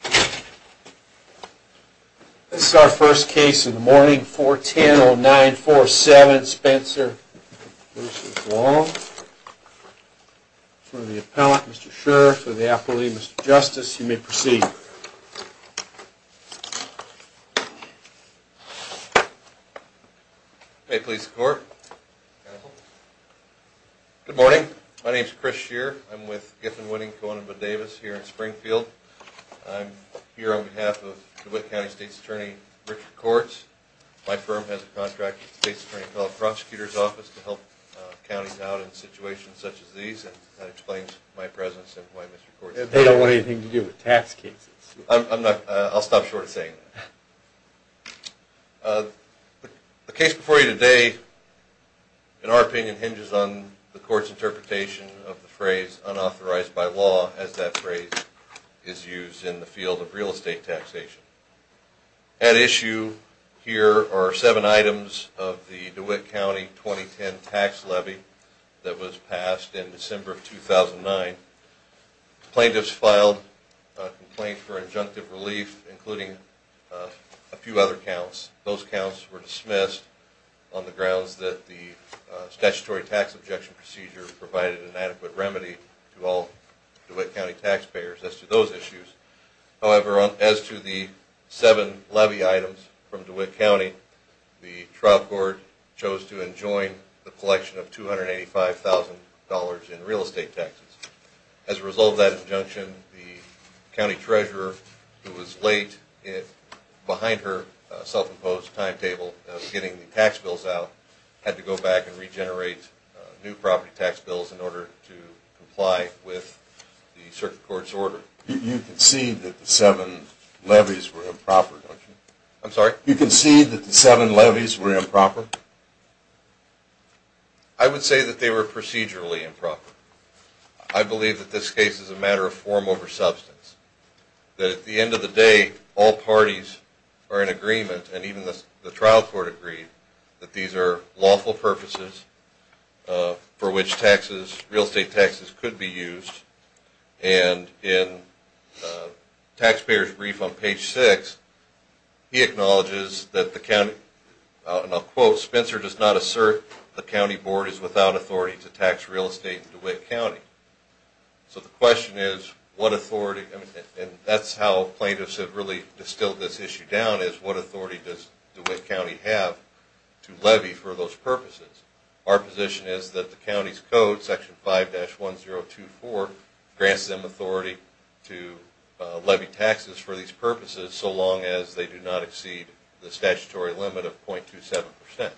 This is our first case in the morning, 410-0947, Spencer v. Long. For the appellant, Mr. Scherr, for the appellee, Mr. Justice, you may proceed. May it please the court. Good morning. My name is Chris Scherr. I'm with Giffen, Winning, Cohen & Wood Davis here in Springfield. I'm here on behalf of DeWitt County State's Attorney Richard Kortz. My firm has a contract with the State's Attorney Appellate Prosecutor's Office to help counties out in situations such as these. That explains my presence and why Mr. Kortz is here. They don't want anything to do with tax cases. I'll stop short of saying that. The case before you today, in our opinion, hinges on the court's interpretation of the phrase, unauthorized by law, as that phrase is used in the field of real estate taxation. At issue here are seven items of the DeWitt County 2010 tax levy that was passed in December of 2009. Plaintiffs filed a complaint for injunctive relief, including a few other counts. Those counts were dismissed on the grounds that the statutory tax objection procedure provided an adequate remedy to all DeWitt County taxpayers as to those issues. However, as to the seven levy items from DeWitt County, the trial court chose to enjoin the collection of $285,000 in real estate taxes. As a result of that injunction, the county treasurer, who was late behind her self-imposed timetable of getting the tax bills out, had to go back and regenerate new property tax bills in order to comply with the circuit court's order. You concede that the seven levies were improper, don't you? I'm sorry? You concede that the seven levies were improper? I would say that they were procedurally improper. I believe that this case is a matter of form over substance. That at the end of the day, all parties are in agreement, and even the trial court agreed, that these are lawful purposes for which taxes, real estate taxes, could be used. And in the taxpayer's brief on page 6, he acknowledges that the county, and I'll quote, Spencer does not assert the county board is without authority to tax real estate in DeWitt County. So the question is, what authority, and that's how plaintiffs have really distilled this issue down, is what authority does DeWitt County have to levy for those purposes? Our position is that the county's code, section 5-1024, grants them authority to levy taxes for these purposes so long as they do not exceed the statutory limit of 0.27%.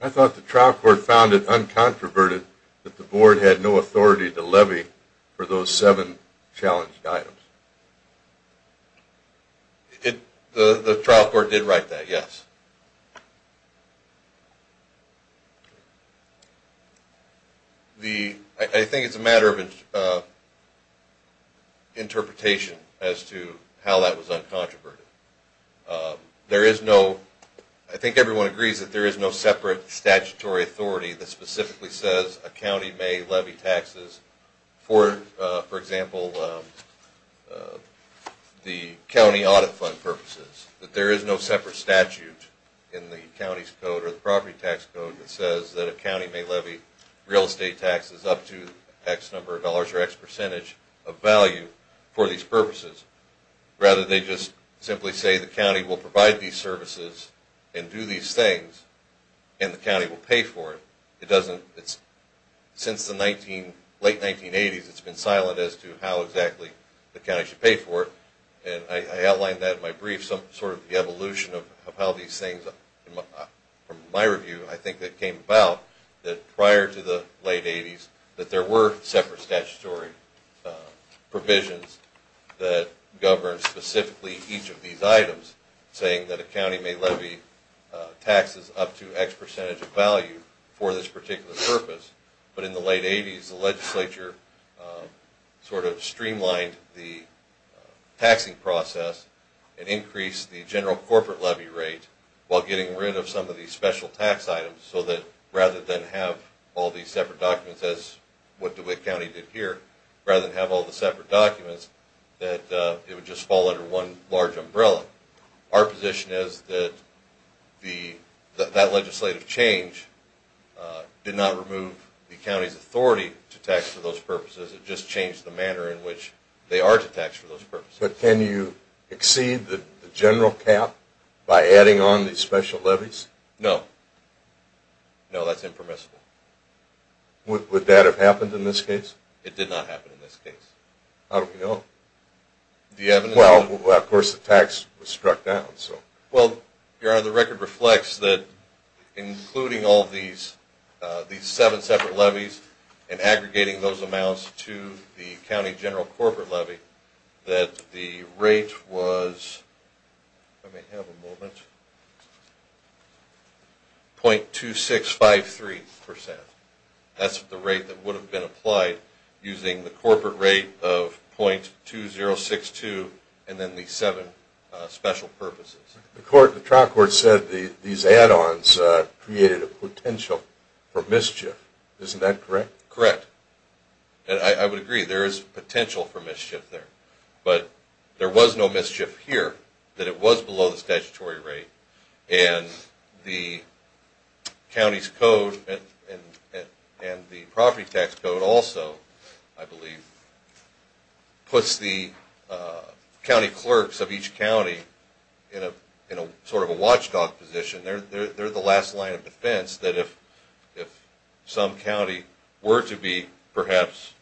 I thought the trial court found it uncontroverted that the board had no authority to levy for those seven challenged items. The trial court did write that, yes. I think it's a matter of interpretation as to how that was uncontroverted. I think everyone agrees that there is no separate statutory authority that specifically says a county may levy taxes for, for example, the county audit fund purposes. That there is no separate statute in the county's code or the property tax code that says that a county may levy real estate taxes up to X number of dollars or X percentage of value for these purposes. Rather, they just simply say the county will provide these services and do these things and the county will pay for it. It doesn't, since the late 1980s, it's been silent as to how exactly the county should pay for it. And I outlined that in my brief, sort of the evolution of how these things, from my review, I think that came about that prior to the late 1980s, that there were separate statutory provisions that governed specifically each of these items saying that a county may levy taxes up to X percentage of value for this particular purpose. But in the late 1980s, the legislature sort of streamlined the taxing process and increased the general corporate levy rate while getting rid of some of these special tax items so that rather than have all these separate documents as what DeWitt County did here, rather than have all the separate documents, that it would just fall under one large umbrella. Our position is that that legislative change did not remove the county's authority to tax for those purposes. It just changed the manner in which they are to tax for those purposes. But can you exceed the general cap by adding on these special levies? No. No, that's impermissible. Would that have happened in this case? It did not happen in this case. How do we know? Well, of course, the tax was struck down. Well, Your Honor, the record reflects that including all these seven separate levies and aggregating those amounts to the county general corporate levy, that the rate was .2653 percent. That's the rate that would have been applied using the corporate rate of .2062 and then the seven special purposes. The trial court said these add-ons created a potential for mischief. Isn't that correct? Correct. And I would agree, there is potential for mischief there. But there was no mischief here, that it was below the statutory rate. And the county's code and the property tax code also, I believe, puts the county clerks of each county in sort of a watchdog position. They're the last line of defense that if some county were to be perhaps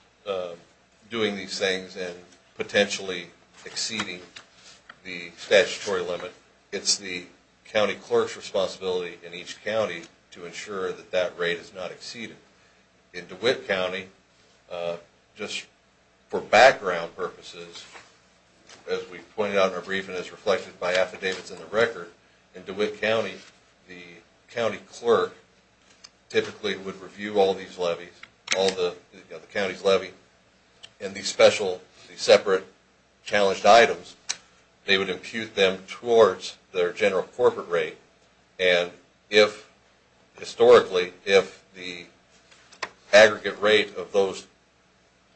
doing these things and potentially exceeding the statutory limit, it's the county clerk's responsibility in each county to ensure that that rate is not exceeded. In DeWitt County, just for background purposes, as we pointed out in our briefing as reflected by affidavits in the record, in DeWitt County, the county clerk typically would review all these levies, all the county's levy, and these special, these separate challenged items. They would impute them towards their general corporate rate. And historically, if the aggregate rate of those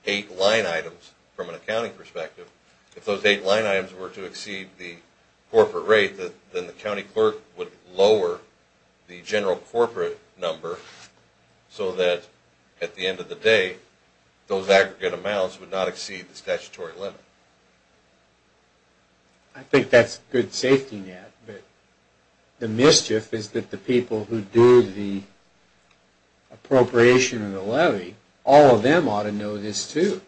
eight line items, from an accounting perspective, if those eight line items were to exceed the corporate rate, then the county clerk would lower the general corporate number so that at the end of the day, those aggregate amounts would not exceed the statutory limit. I think that's a good safety net. The mischief is that the people who do the appropriation of the levy, all of them ought to know this, too.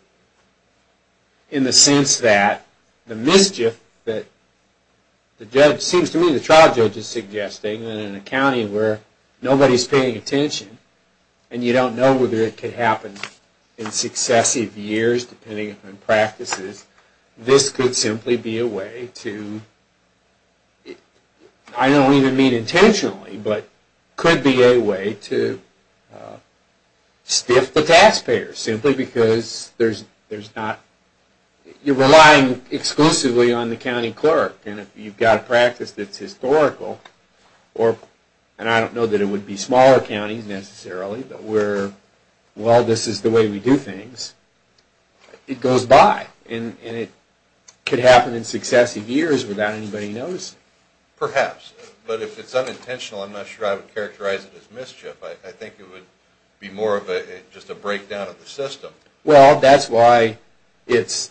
In the sense that the mischief that the judge seems to be, the trial judge is suggesting in a county where nobody's paying attention and you don't know whether it could happen in successive years depending on practices, this could simply be a way to, I don't even mean intentionally, but could be a way to stiff the taxpayers simply because there's not, you're relying exclusively on the county clerk. And if you've got a practice that's historical, and I don't know that it would be smaller counties necessarily, but where, well, this is the way we do things, it goes by. And it could happen in successive years without anybody noticing. Perhaps. But if it's unintentional, I'm not sure I would characterize it as mischief. I think it would be more of just a breakdown of the system. Well, that's why it's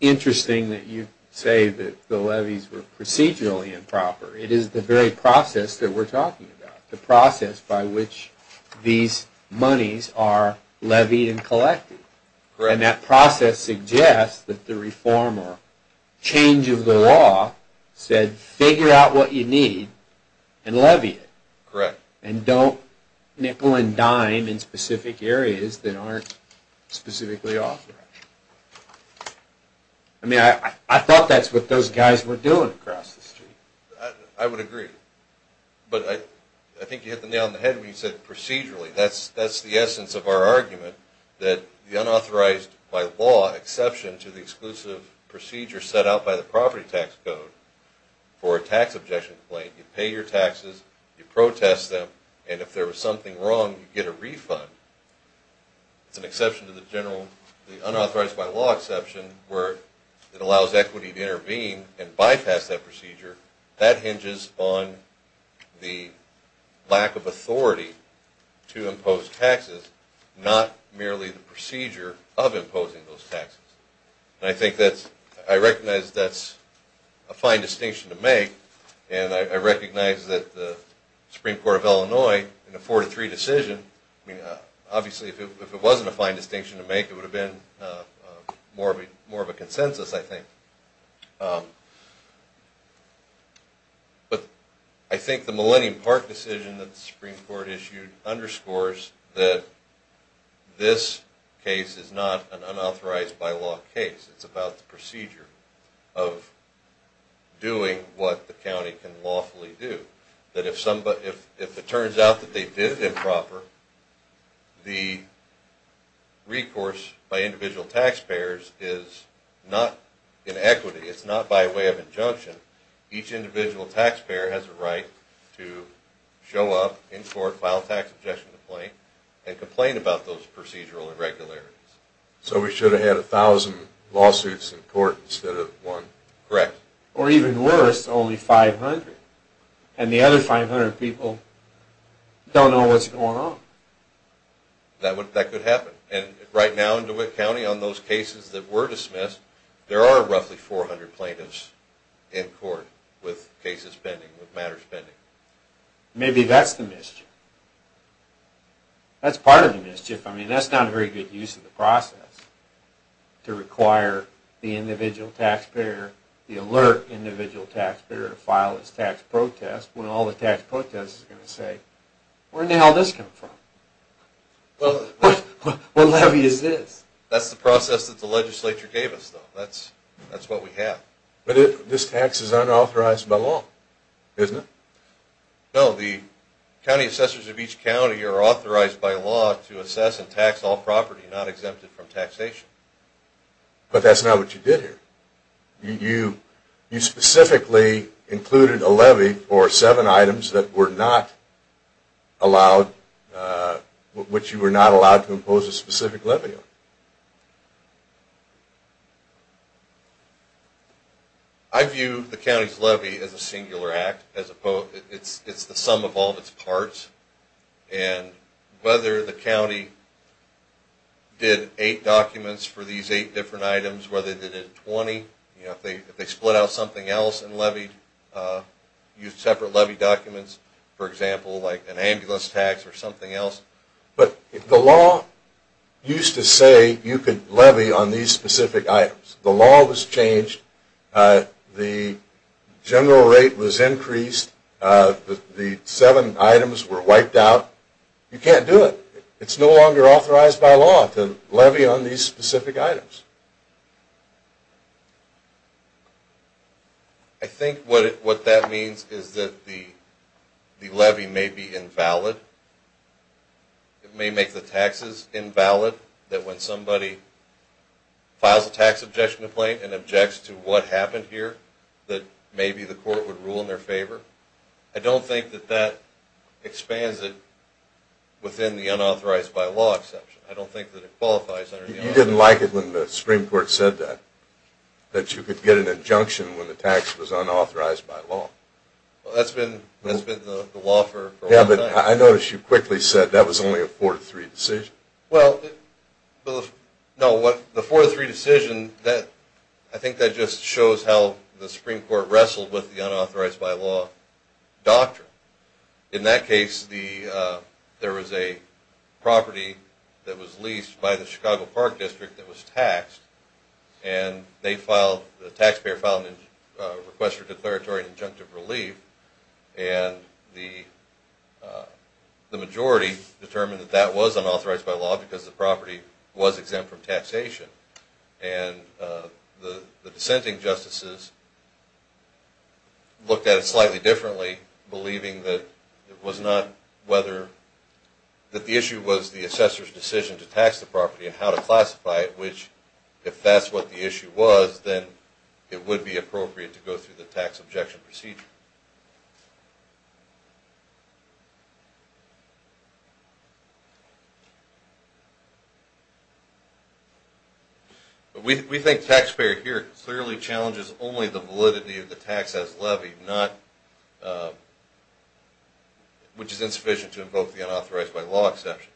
interesting that you say that the levies were procedurally improper. It is the very process that we're talking about, the process by which these monies are levied and collected. And that process suggests that the reform or change of the law said, figure out what you need and levy it. And don't nickel and dime in specific areas that aren't specifically authorized. I mean, I thought that's what those guys were doing across the street. I would agree. But I think you hit the nail on the head when you said procedurally. That's the essence of our argument that the unauthorized by law exception to the exclusive procedure set out by the property tax code for a tax objection complaint, you pay your taxes, you protest them, and if there was something wrong, you get a refund. It's an exception to the unauthorized by law exception where it allows equity to intervene and bypass that procedure. That hinges on the lack of authority to impose taxes, not merely the procedure of imposing those taxes. And I recognize that's a fine distinction to make, and I recognize that the Supreme Court of Illinois in a 4-3 decision, I mean, obviously if it wasn't a fine distinction to make, it would have been more of a consensus, I think. But I think the Millennium Park decision that the Supreme Court issued underscores that this case is not an unauthorized by law case. It's about the procedure of doing what the county can lawfully do. That if it turns out that they did it improper, the recourse by individual taxpayers is not in equity. It's not by way of injunction. Each individual taxpayer has a right to show up in court, file a tax objection complaint, and complain about those procedural irregularities. So we should have had 1,000 lawsuits in court instead of one? Correct. Or even worse, only 500. And the other 500 people don't know what's going on. That could happen. And right now in DeWitt County on those cases that were dismissed, there are roughly 400 plaintiffs in court with cases pending, with matters pending. Maybe that's the mischief. That's part of the mischief. I mean, that's not a very good use of the process, to require the alert individual taxpayer to file this tax protest when all the tax protest is going to say, where in the hell did this come from? What levy is this? That's the process that the legislature gave us, though. That's what we have. But this tax is unauthorized by law, isn't it? No, the county assessors of each county are authorized by law to assess and tax all property not exempted from taxation. But that's not what you did here. You specifically included a levy for seven items that were not allowed, which you were not allowed to impose a specific levy on. I view the county's levy as a singular act. It's the sum of all of its parts. And whether the county did eight documents for these eight different items, whether they did 20, if they split out something else and levied, used separate levy documents, for example, like an ambulance tax or something else. But the law used to say you could levy on these specific items. The law was changed. The general rate was increased. The seven items were wiped out. You can't do it. It's no longer authorized by law to levy on these specific items. I think what that means is that the levy may be invalid. It may make the taxes invalid. That when somebody files a tax objection complaint and objects to what happened here, that maybe the court would rule in their favor. I don't think that that expands it within the unauthorized by law exception. You didn't like it when the Supreme Court said that, that you could get an injunction when the tax was unauthorized by law. That's been the law for a long time. I noticed you quickly said that was only a four-to-three decision. Well, the four-to-three decision, I think that just shows how the Supreme Court wrestled with the unauthorized by law doctrine. In that case, there was a property that was leased by the Chicago Park District that was taxed. The taxpayer filed a request for declaratory and injunctive relief. The majority determined that that was unauthorized by law because the property was exempt from taxation. The dissenting justices looked at it slightly differently, believing that the issue was the assessor's decision to tax the property and how to classify it, which, if that's what the issue was, then it would be appropriate to go through the tax objection procedure. We think taxpayer here clearly challenges only the validity of the tax as levied, which is insufficient to invoke the unauthorized by law exception.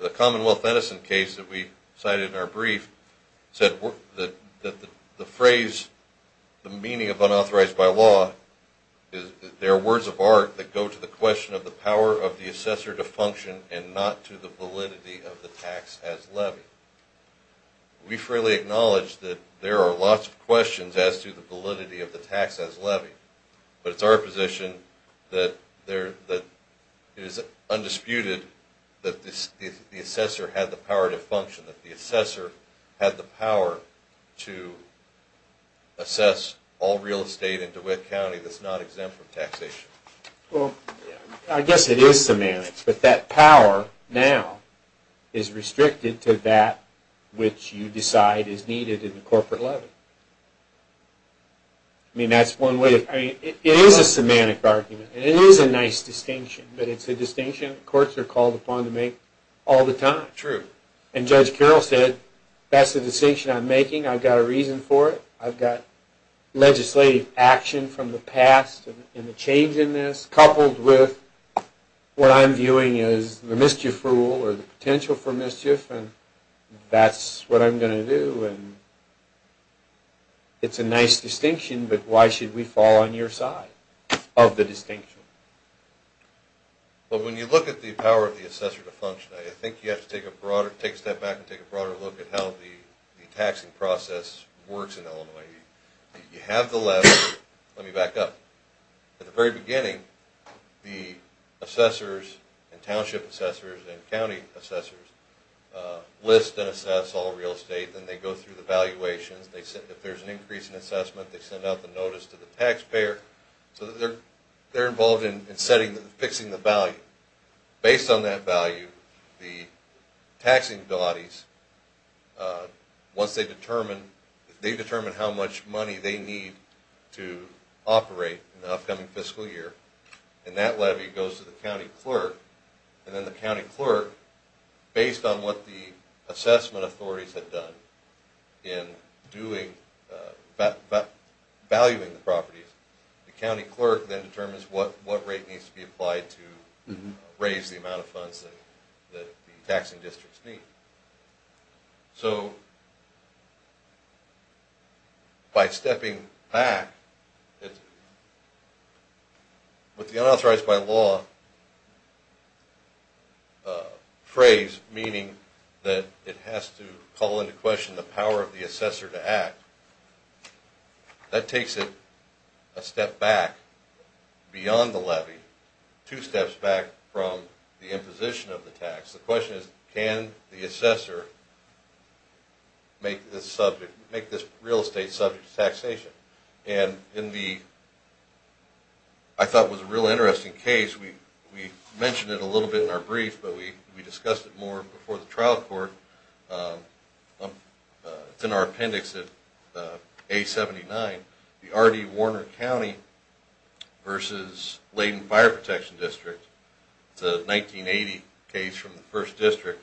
The Commonwealth Edison case that we cited in our brief said that the phrase, the meaning of unauthorized by law, is that there are words of art that go to the question of the power of the assessor to function and not to the validity of the tax as levied. We freely acknowledge that there are lots of questions as to the validity of the tax as levied. But it's our position that it is undisputed that the assessor had the power to function, that the assessor had the power to assess all real estate in DeWitt County that's not exempt from taxation. Well, I guess it is the merits, but that power now is restricted to that which you decide is needed at the corporate level. I mean, that's one way. It is a semantic argument. It is a nice distinction, but it's a distinction courts are called upon to make all the time. True. And Judge Carroll said, that's the distinction I'm making. I've got a reason for it. I've got legislative action from the past and the change in this coupled with what I'm viewing as the mischief rule or the potential for mischief, and that's what I'm going to do. And it's a nice distinction, but why should we fall on your side of the distinction? Well, when you look at the power of the assessor to function, I think you have to take a broader – take a step back and take a broader look at how the taxing process works in Illinois. You have the left – let me back up. At the very beginning, the assessors and township assessors and county assessors list and assess all real estate, and they go through the valuations. If there's an increase in assessment, they send out the notice to the taxpayer. So they're involved in setting – fixing the value. Based on that value, the taxing bodies, once they determine – they determine how much money they need to operate in the upcoming fiscal year, and that levy goes to the county clerk. And then the county clerk, based on what the assessment authorities have done in doing – valuing the properties, the county clerk then determines what rate needs to be applied to raise the amount of funds that the taxing districts need. So by stepping back, with the unauthorized by law phrase, meaning that it has to call into question the power of the assessor to act, that takes it a step back beyond the levy, two steps back from the imposition of the tax. The question is, can the assessor make this subject – make this real estate subject to taxation? And in the – I thought it was a real interesting case. We mentioned it a little bit in our brief, but we discussed it more before the trial court. It's in our appendix at A-79, the R.D. Warner County versus Layton Fire Protection District. It's a 1980 case from the 1st District.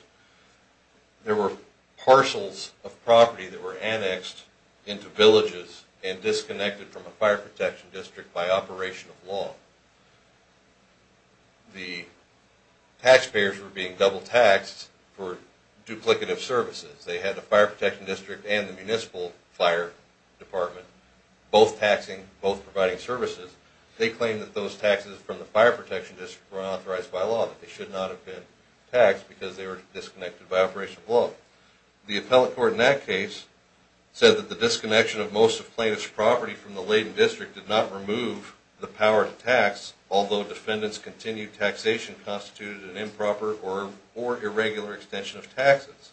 There were parcels of property that were annexed into villages and disconnected from a fire protection district by operation of law. The taxpayers were being double-taxed for duplicative services. They had the fire protection district and the municipal fire department both taxing, both providing services. They claimed that those taxes from the fire protection district were unauthorized by law, that they should not have been taxed because they were disconnected by operation of law. The appellate court in that case said that the disconnection of most of plaintiff's property from the Layton district did not remove the power to tax, although defendants' continued taxation constituted an improper or irregular extension of taxes.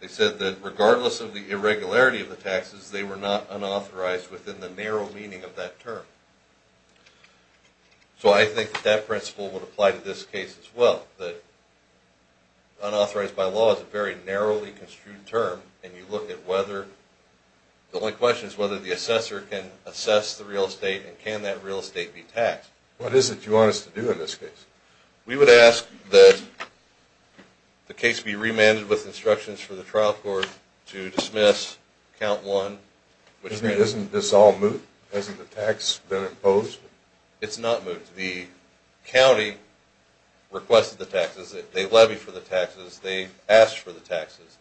They said that regardless of the irregularity of the taxes, they were not unauthorized within the narrow meaning of that term. So I think that that principle would apply to this case as well, that unauthorized by law is a very narrowly construed term, and you look at whether – the only question is whether the assessor can assess the real estate and can that real estate be taxed. What is it you want us to do in this case? We would ask that the case be remanded with instructions from the trial court to dismiss count one. Isn't this all moot? Hasn't the tax been imposed? It's not moot. The county requested the taxes. They levied for the taxes. They asked for the taxes.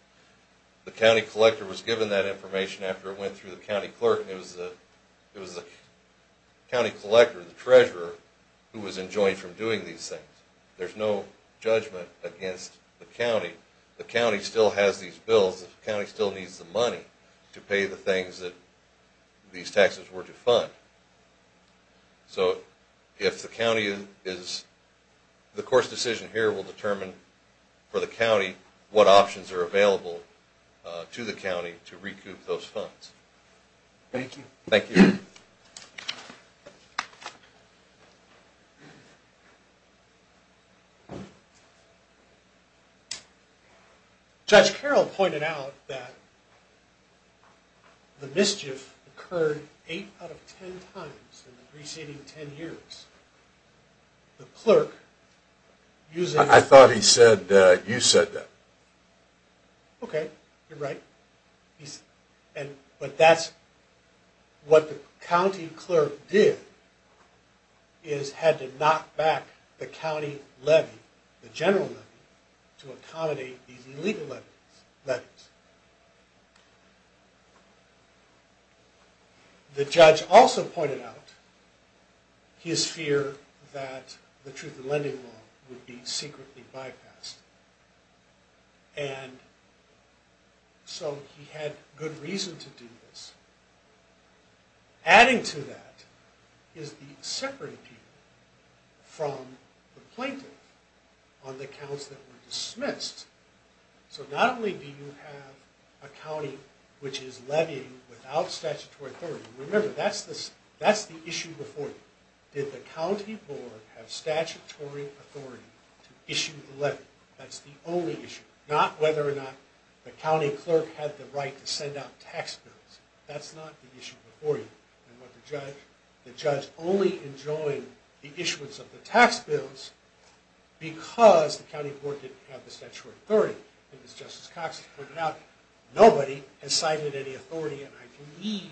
The county collector was given that information after it went through the county clerk. It was the county collector, the treasurer, who was enjoined from doing these things. There's no judgment against the county. The county still has these bills. The county still needs the money to pay the things that these taxes were to fund. So if the county is – the court's decision here will determine for the county what options are available to the county to recoup those funds. Thank you. Thank you. Judge Carroll pointed out that the mischief occurred eight out of ten times in the preceding ten years. The clerk using – I thought he said that you said that. Okay. You're right. But that's what the county clerk did, is had to knock back the county levy, the general levy, to accommodate these illegal levies. The judge also pointed out his fear that the truth in lending law would be secretly bypassed. And so he had good reason to do this. Adding to that is the separate people from the plaintiff on the counts that were dismissed. So not only do you have a county which is levying without statutory authority – remember, that's the issue before you. Did the county board have statutory authority to issue the levy? That's the only issue. Not whether or not the county clerk had the right to send out tax bills. That's not the issue before you. And the judge only enjoined the issuance of the tax bills because the county board didn't have the statutory authority. And as Justice Cox has pointed out, nobody has cited any authority, and I believe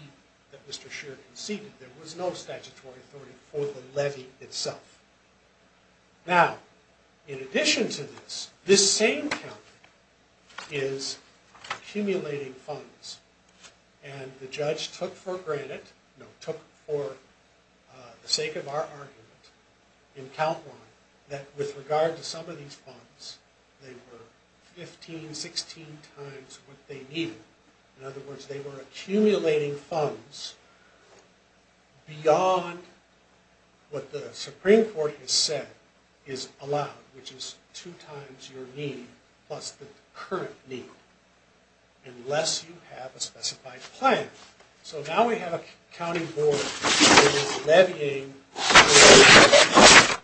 that Mr. Scheer conceded there was no statutory authority for the levy itself. Now, in addition to this, this same county is accumulating funds. And the judge took for granted – no, took for the sake of our argument in count one that with regard to some of these funds, they were 15, 16 times what they needed. In other words, they were accumulating funds beyond what the Supreme Court has said is allowed, which is two times your need plus the current need, unless you have a specified plan. So now we have a county board that is levying to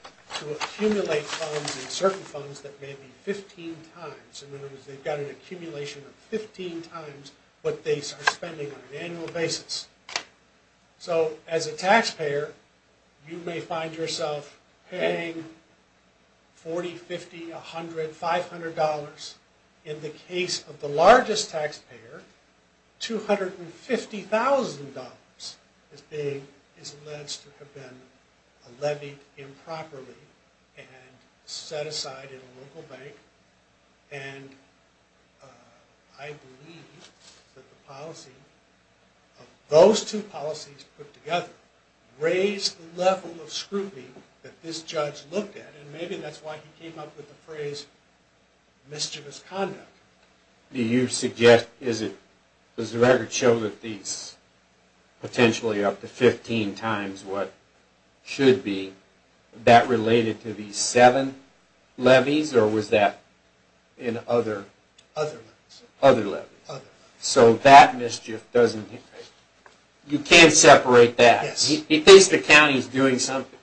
accumulate funds in certain funds that may be 15 times – in other words, they've got an accumulation of 15 times what they are spending on an annual basis. So as a taxpayer, you may find yourself paying $40, $50, $100, $500. In the case of the largest taxpayer, $250,000 is being – is alleged to have been levied improperly and set aside in a local bank. And I believe that the policy – those two policies put together raise the level of scrutiny that this judge looked at. And maybe that's why he came up with the phrase, mischievous conduct. Do you suggest – does the record show that these potentially up to 15 times what should be? Was that related to these seven levies, or was that in other levies? So that mischief doesn't – you can't separate that. He thinks the county is doing something.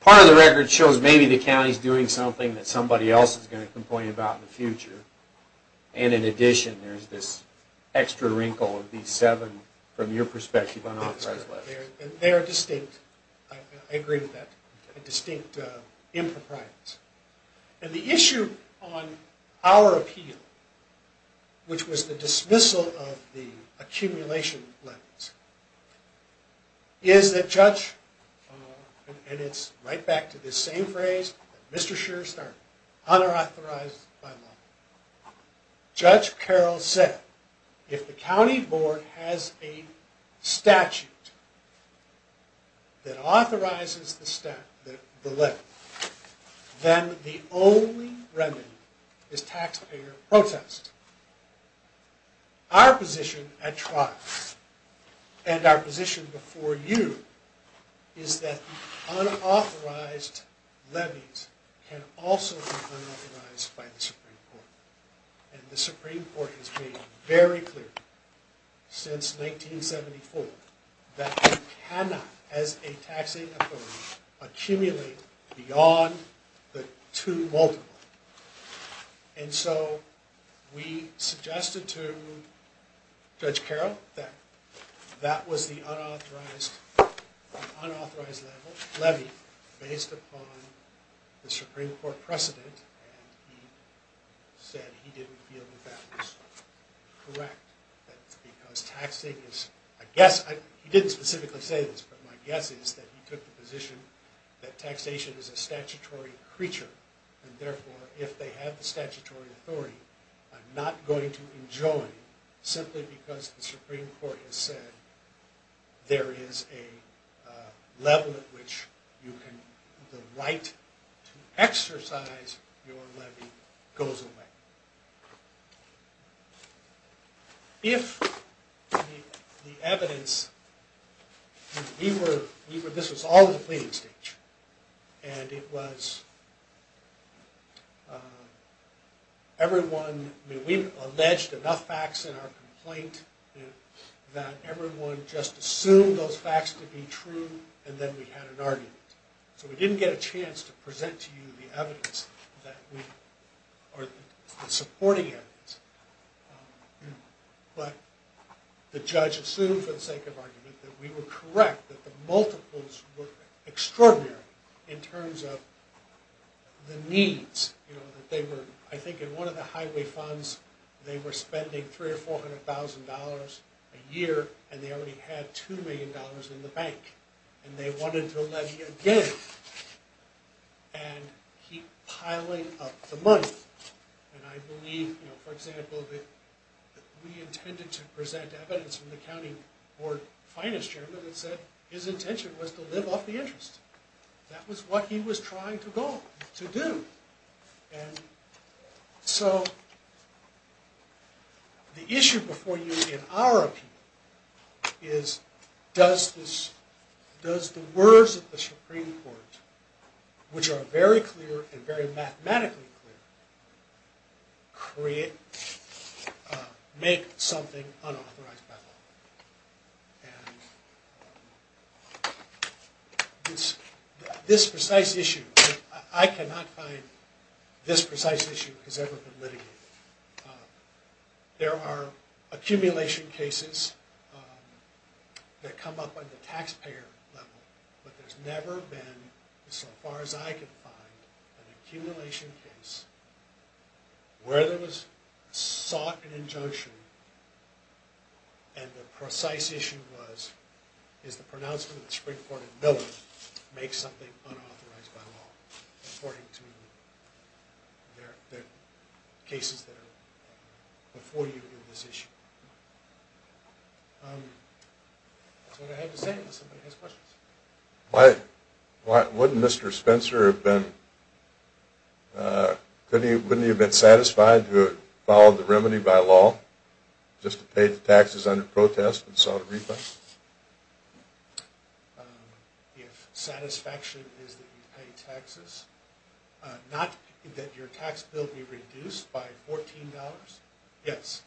Part of the record shows maybe the county is doing something that somebody else is going to complain about in the future. And in addition, there's this extra wrinkle of these seven, from your perspective, unauthorized levies. They are distinct. I agree with that. Distinct improprieties. And the issue on our appeal, which was the dismissal of the accumulation levies, is that Judge – and it's right back to this same phrase that Mr. Scherer started – unauthorized by law. Judge Carroll said, if the county board has a statute that authorizes the levy, then the only remedy is taxpayer protest. Our position at trial, and our position before you, is that unauthorized levies can also be unauthorized by the Supreme Court. And the Supreme Court has made it very clear since 1974 that it cannot, as a taxing authority, accumulate beyond the two multiple. And so we suggested to Judge Carroll that that was the unauthorized levy based upon the Supreme Court precedent, and he said he didn't feel that that was correct. He didn't specifically say this, but my guess is that he took the position that taxation is a statutory creature, and therefore if they have the statutory authority, I'm not going to enjoy it, simply because the Supreme Court has said there is a level at which the right to exercise your levy goes away. If the evidence – this was all in the pleading stage, and it was everyone – I mean, we've alleged enough facts in our complaint that everyone just assumed those facts to be true, and then we had an argument. So we didn't get a chance to present to you the supporting evidence, but the judge assumed for the sake of argument that we were correct, that the multiples were extraordinary in terms of the needs. I think in one of the highway funds, they were spending $300,000 or $400,000 a year, and they already had $2 million in the bank, and they wanted the levy again, and keep piling up the money. And I believe, for example, that we intended to present evidence from the county board finance chairman that said his intention was to live off the interest. That was what he was trying to do. And so the issue before you in our opinion is, does the words of the Supreme Court, which are very clear and very mathematically clear, make something unauthorized by law? And this precise issue – I cannot find this precise issue has ever been litigated. There are accumulation cases that come up on the taxpayer level, but there's never been, so far as I can find, an accumulation case where there was sought an injunction and the precise issue was, is the pronouncement of the Supreme Court in Millard make something unauthorized by law, according to the cases that are before you in this issue. That's what I have to say unless somebody has questions. Wouldn't Mr. Spencer have been satisfied to have followed the remedy by law, just to pay the taxes under protest and sought a refund? If satisfaction is that you pay taxes, not that your tax bill be reduced by $14? Yes.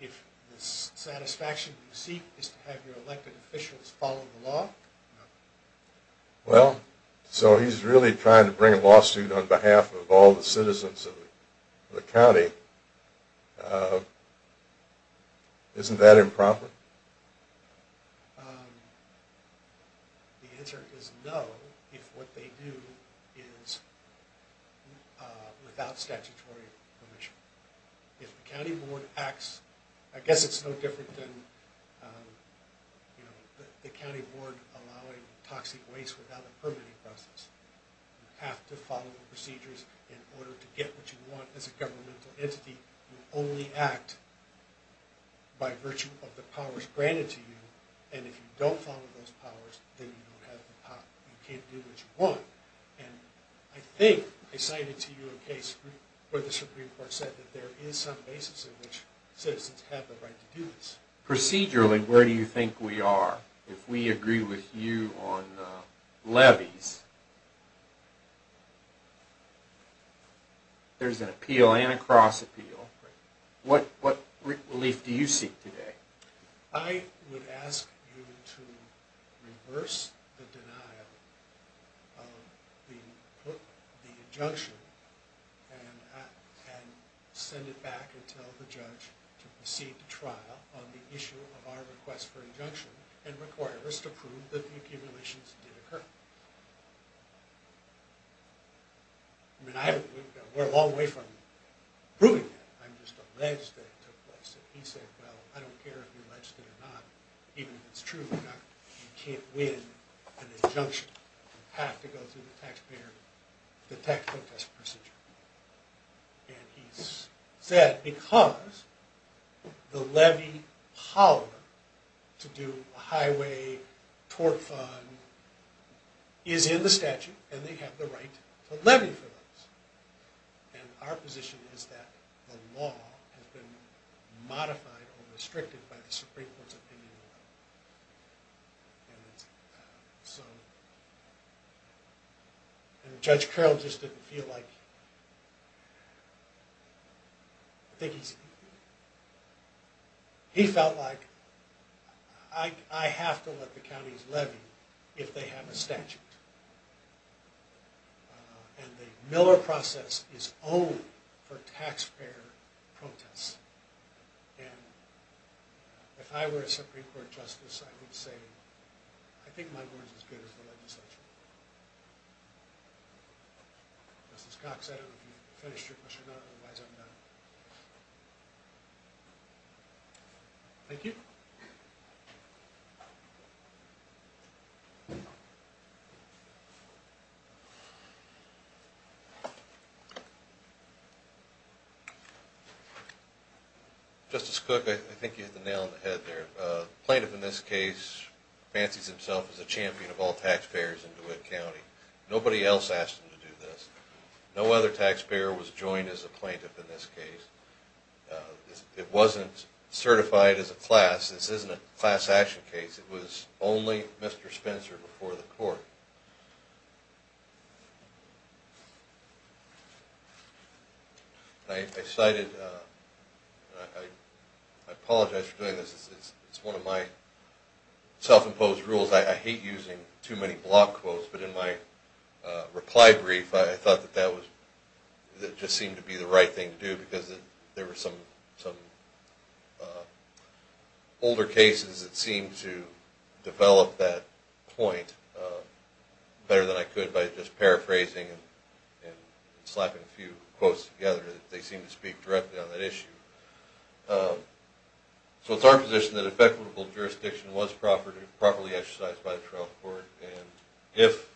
If the satisfaction you seek is to have your elected officials follow the law? Well, so he's really trying to bring a lawsuit on behalf of all the citizens of the county. Isn't that improper? The answer is no, if what they do is without statutory permission. If the county board acts – I guess it's no different than the county board allowing toxic waste without a permitting process. You have to follow the procedures in order to get what you want as a governmental entity. You only act by virtue of the powers granted to you. And if you don't follow those powers, then you can't do what you want. And I think I cited to you a case where the Supreme Court said that there is some basis in which citizens have the right to do this. Procedurally, where do you think we are? If we agree with you on levies, there's an appeal and a cross-appeal. What relief do you seek today? I would ask you to reverse the denial of the injunction and send it back and tell the judge to proceed to trial on the issue of our request for injunction and require us to prove that the accumulations did occur. I mean, we're a long way from proving that. I'm just alleged that it took place. And he said, well, I don't care if you're alleged to or not, even if it's true or not, you can't win an injunction. You have to go through the taxpayer – the tax bill test procedure. And he said, because the levy power to do a highway tort fund is in the statute and they have the right to levy for those. And our position is that the law has been modified or restricted by the Supreme Court's opinion. And Judge Carroll just didn't feel like – he felt like, I have to let the counties levy if they have a statute. And the Miller process is only for taxpayer protests. And if I were a Supreme Court justice, I would say, I think my board is as good as the legislature. Justice Cox, I don't know if you finished your question or not, otherwise I'm done. Thank you. Thank you. Justice Cook, I think you hit the nail on the head there. The plaintiff in this case fancies himself as a champion of all taxpayers in DeWitt County. Nobody else asked him to do this. No other taxpayer was joined as a plaintiff in this case. It wasn't certified as a class. This isn't a class action case. It was only Mr. Spencer before the court. I cited – I apologize for doing this. It's one of my self-imposed rules. I hate using too many block quotes. But in my reply brief, I thought that that was – that just seemed to be the right thing to do because there were some older cases that seemed to develop that point better than I could by just paraphrasing and slapping a few quotes together. They seemed to speak directly on that issue. So it's our position that effective jurisdiction was properly exercised by the trial court. And if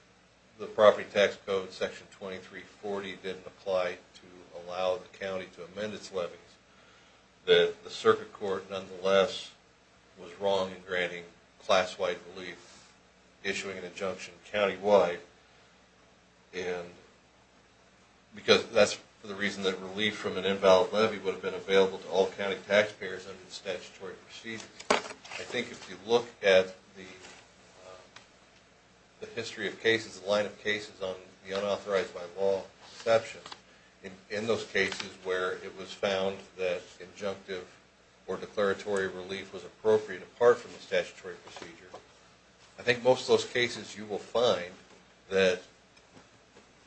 the property tax code, section 2340, didn't apply to allow the county to amend its levies, that the circuit court nonetheless was wrong in granting class-wide relief, issuing an injunction county-wide, because that's the reason that relief from an invalid levy would have been available to all county taxpayers under the statutory procedures. I think if you look at the history of cases, the line of cases on the unauthorized by law exception, in those cases where it was found that injunctive or declaratory relief was appropriate apart from the statutory procedure, I think most of those cases you will find that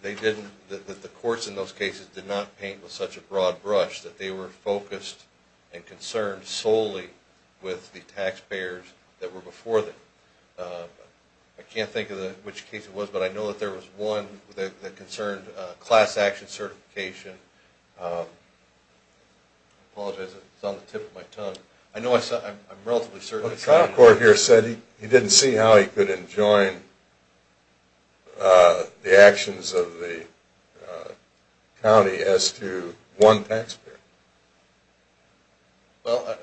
they didn't – that the courts in those cases did not paint with such a broad brush, that they were focused and concerned solely with the taxpayers that were before them. I can't think of which case it was, but I know that there was one that concerned class action certification. I apologize, it's on the tip of my tongue. I know I'm relatively certain it's not. My court here said he didn't see how he could enjoin the actions of the county as to one taxpayer. Well,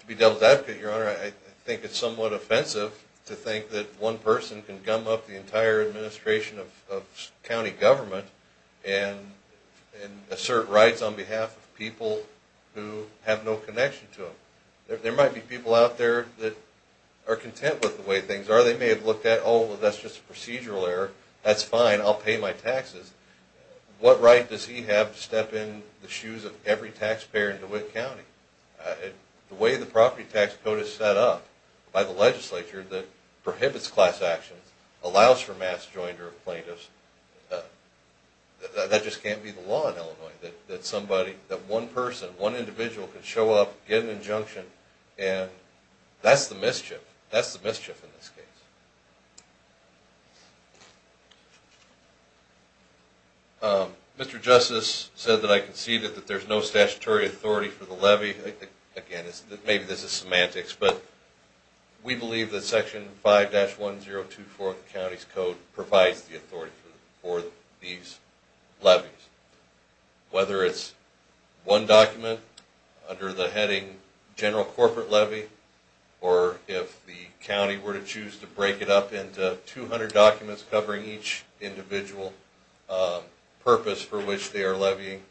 to be double-deficit, Your Honor, I think it's somewhat offensive to think that one person can gum up the entire administration of county government and assert rights on behalf of people who have no connection to them. There might be people out there that are content with the way things are. They may have looked at, oh, that's just a procedural error. That's fine, I'll pay my taxes. What right does he have to step in the shoes of every taxpayer in DeWitt County? The way the property tax code is set up by the legislature that prohibits class action, allows for mass enjoinder of plaintiffs, that just can't be the law in Illinois, that one person, one individual can show up, get an injunction, and that's the mischief. That's the mischief in this case. Mr. Justice said that I conceded that there's no statutory authority for the levy. Again, maybe this is semantics, but we believe that Section 5-1024 of the county's code provides the authority for these levies. Whether it's one document under the heading general corporate levy, or if the county were to choose to break it up into 200 documents covering each individual purpose for which they are levying,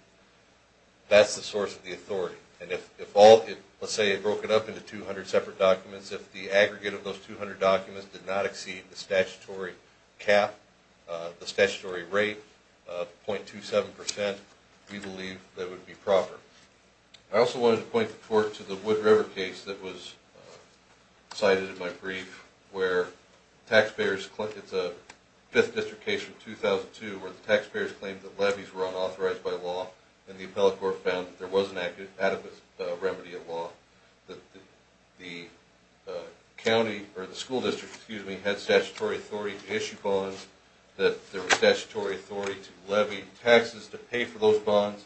that's the source of the authority. And if all, let's say it broke it up into 200 separate documents, if the aggregate of those 200 documents did not exceed the statutory cap, the statutory rate of .27%, we believe that would be proper. I also wanted to point the court to the Wood River case that was cited in my brief, where taxpayers, it's a 5th district case from 2002, where the taxpayers claimed that levies were unauthorized by law, and the appellate court found that there was an adequate remedy of law, that the school district had statutory authority to issue bonds, that there was statutory authority to levy taxes to pay for those bonds,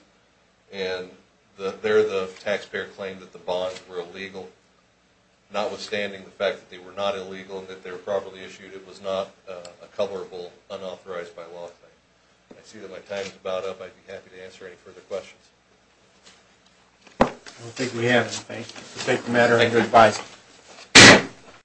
and there the taxpayer claimed that the bonds were illegal, notwithstanding the fact that they were not illegal and that they were properly issued. It was not a coverable, unauthorized by law thing. I see that my time is about up. I'd be happy to answer any further questions. I don't think we have anything. We'll take the matter under advice.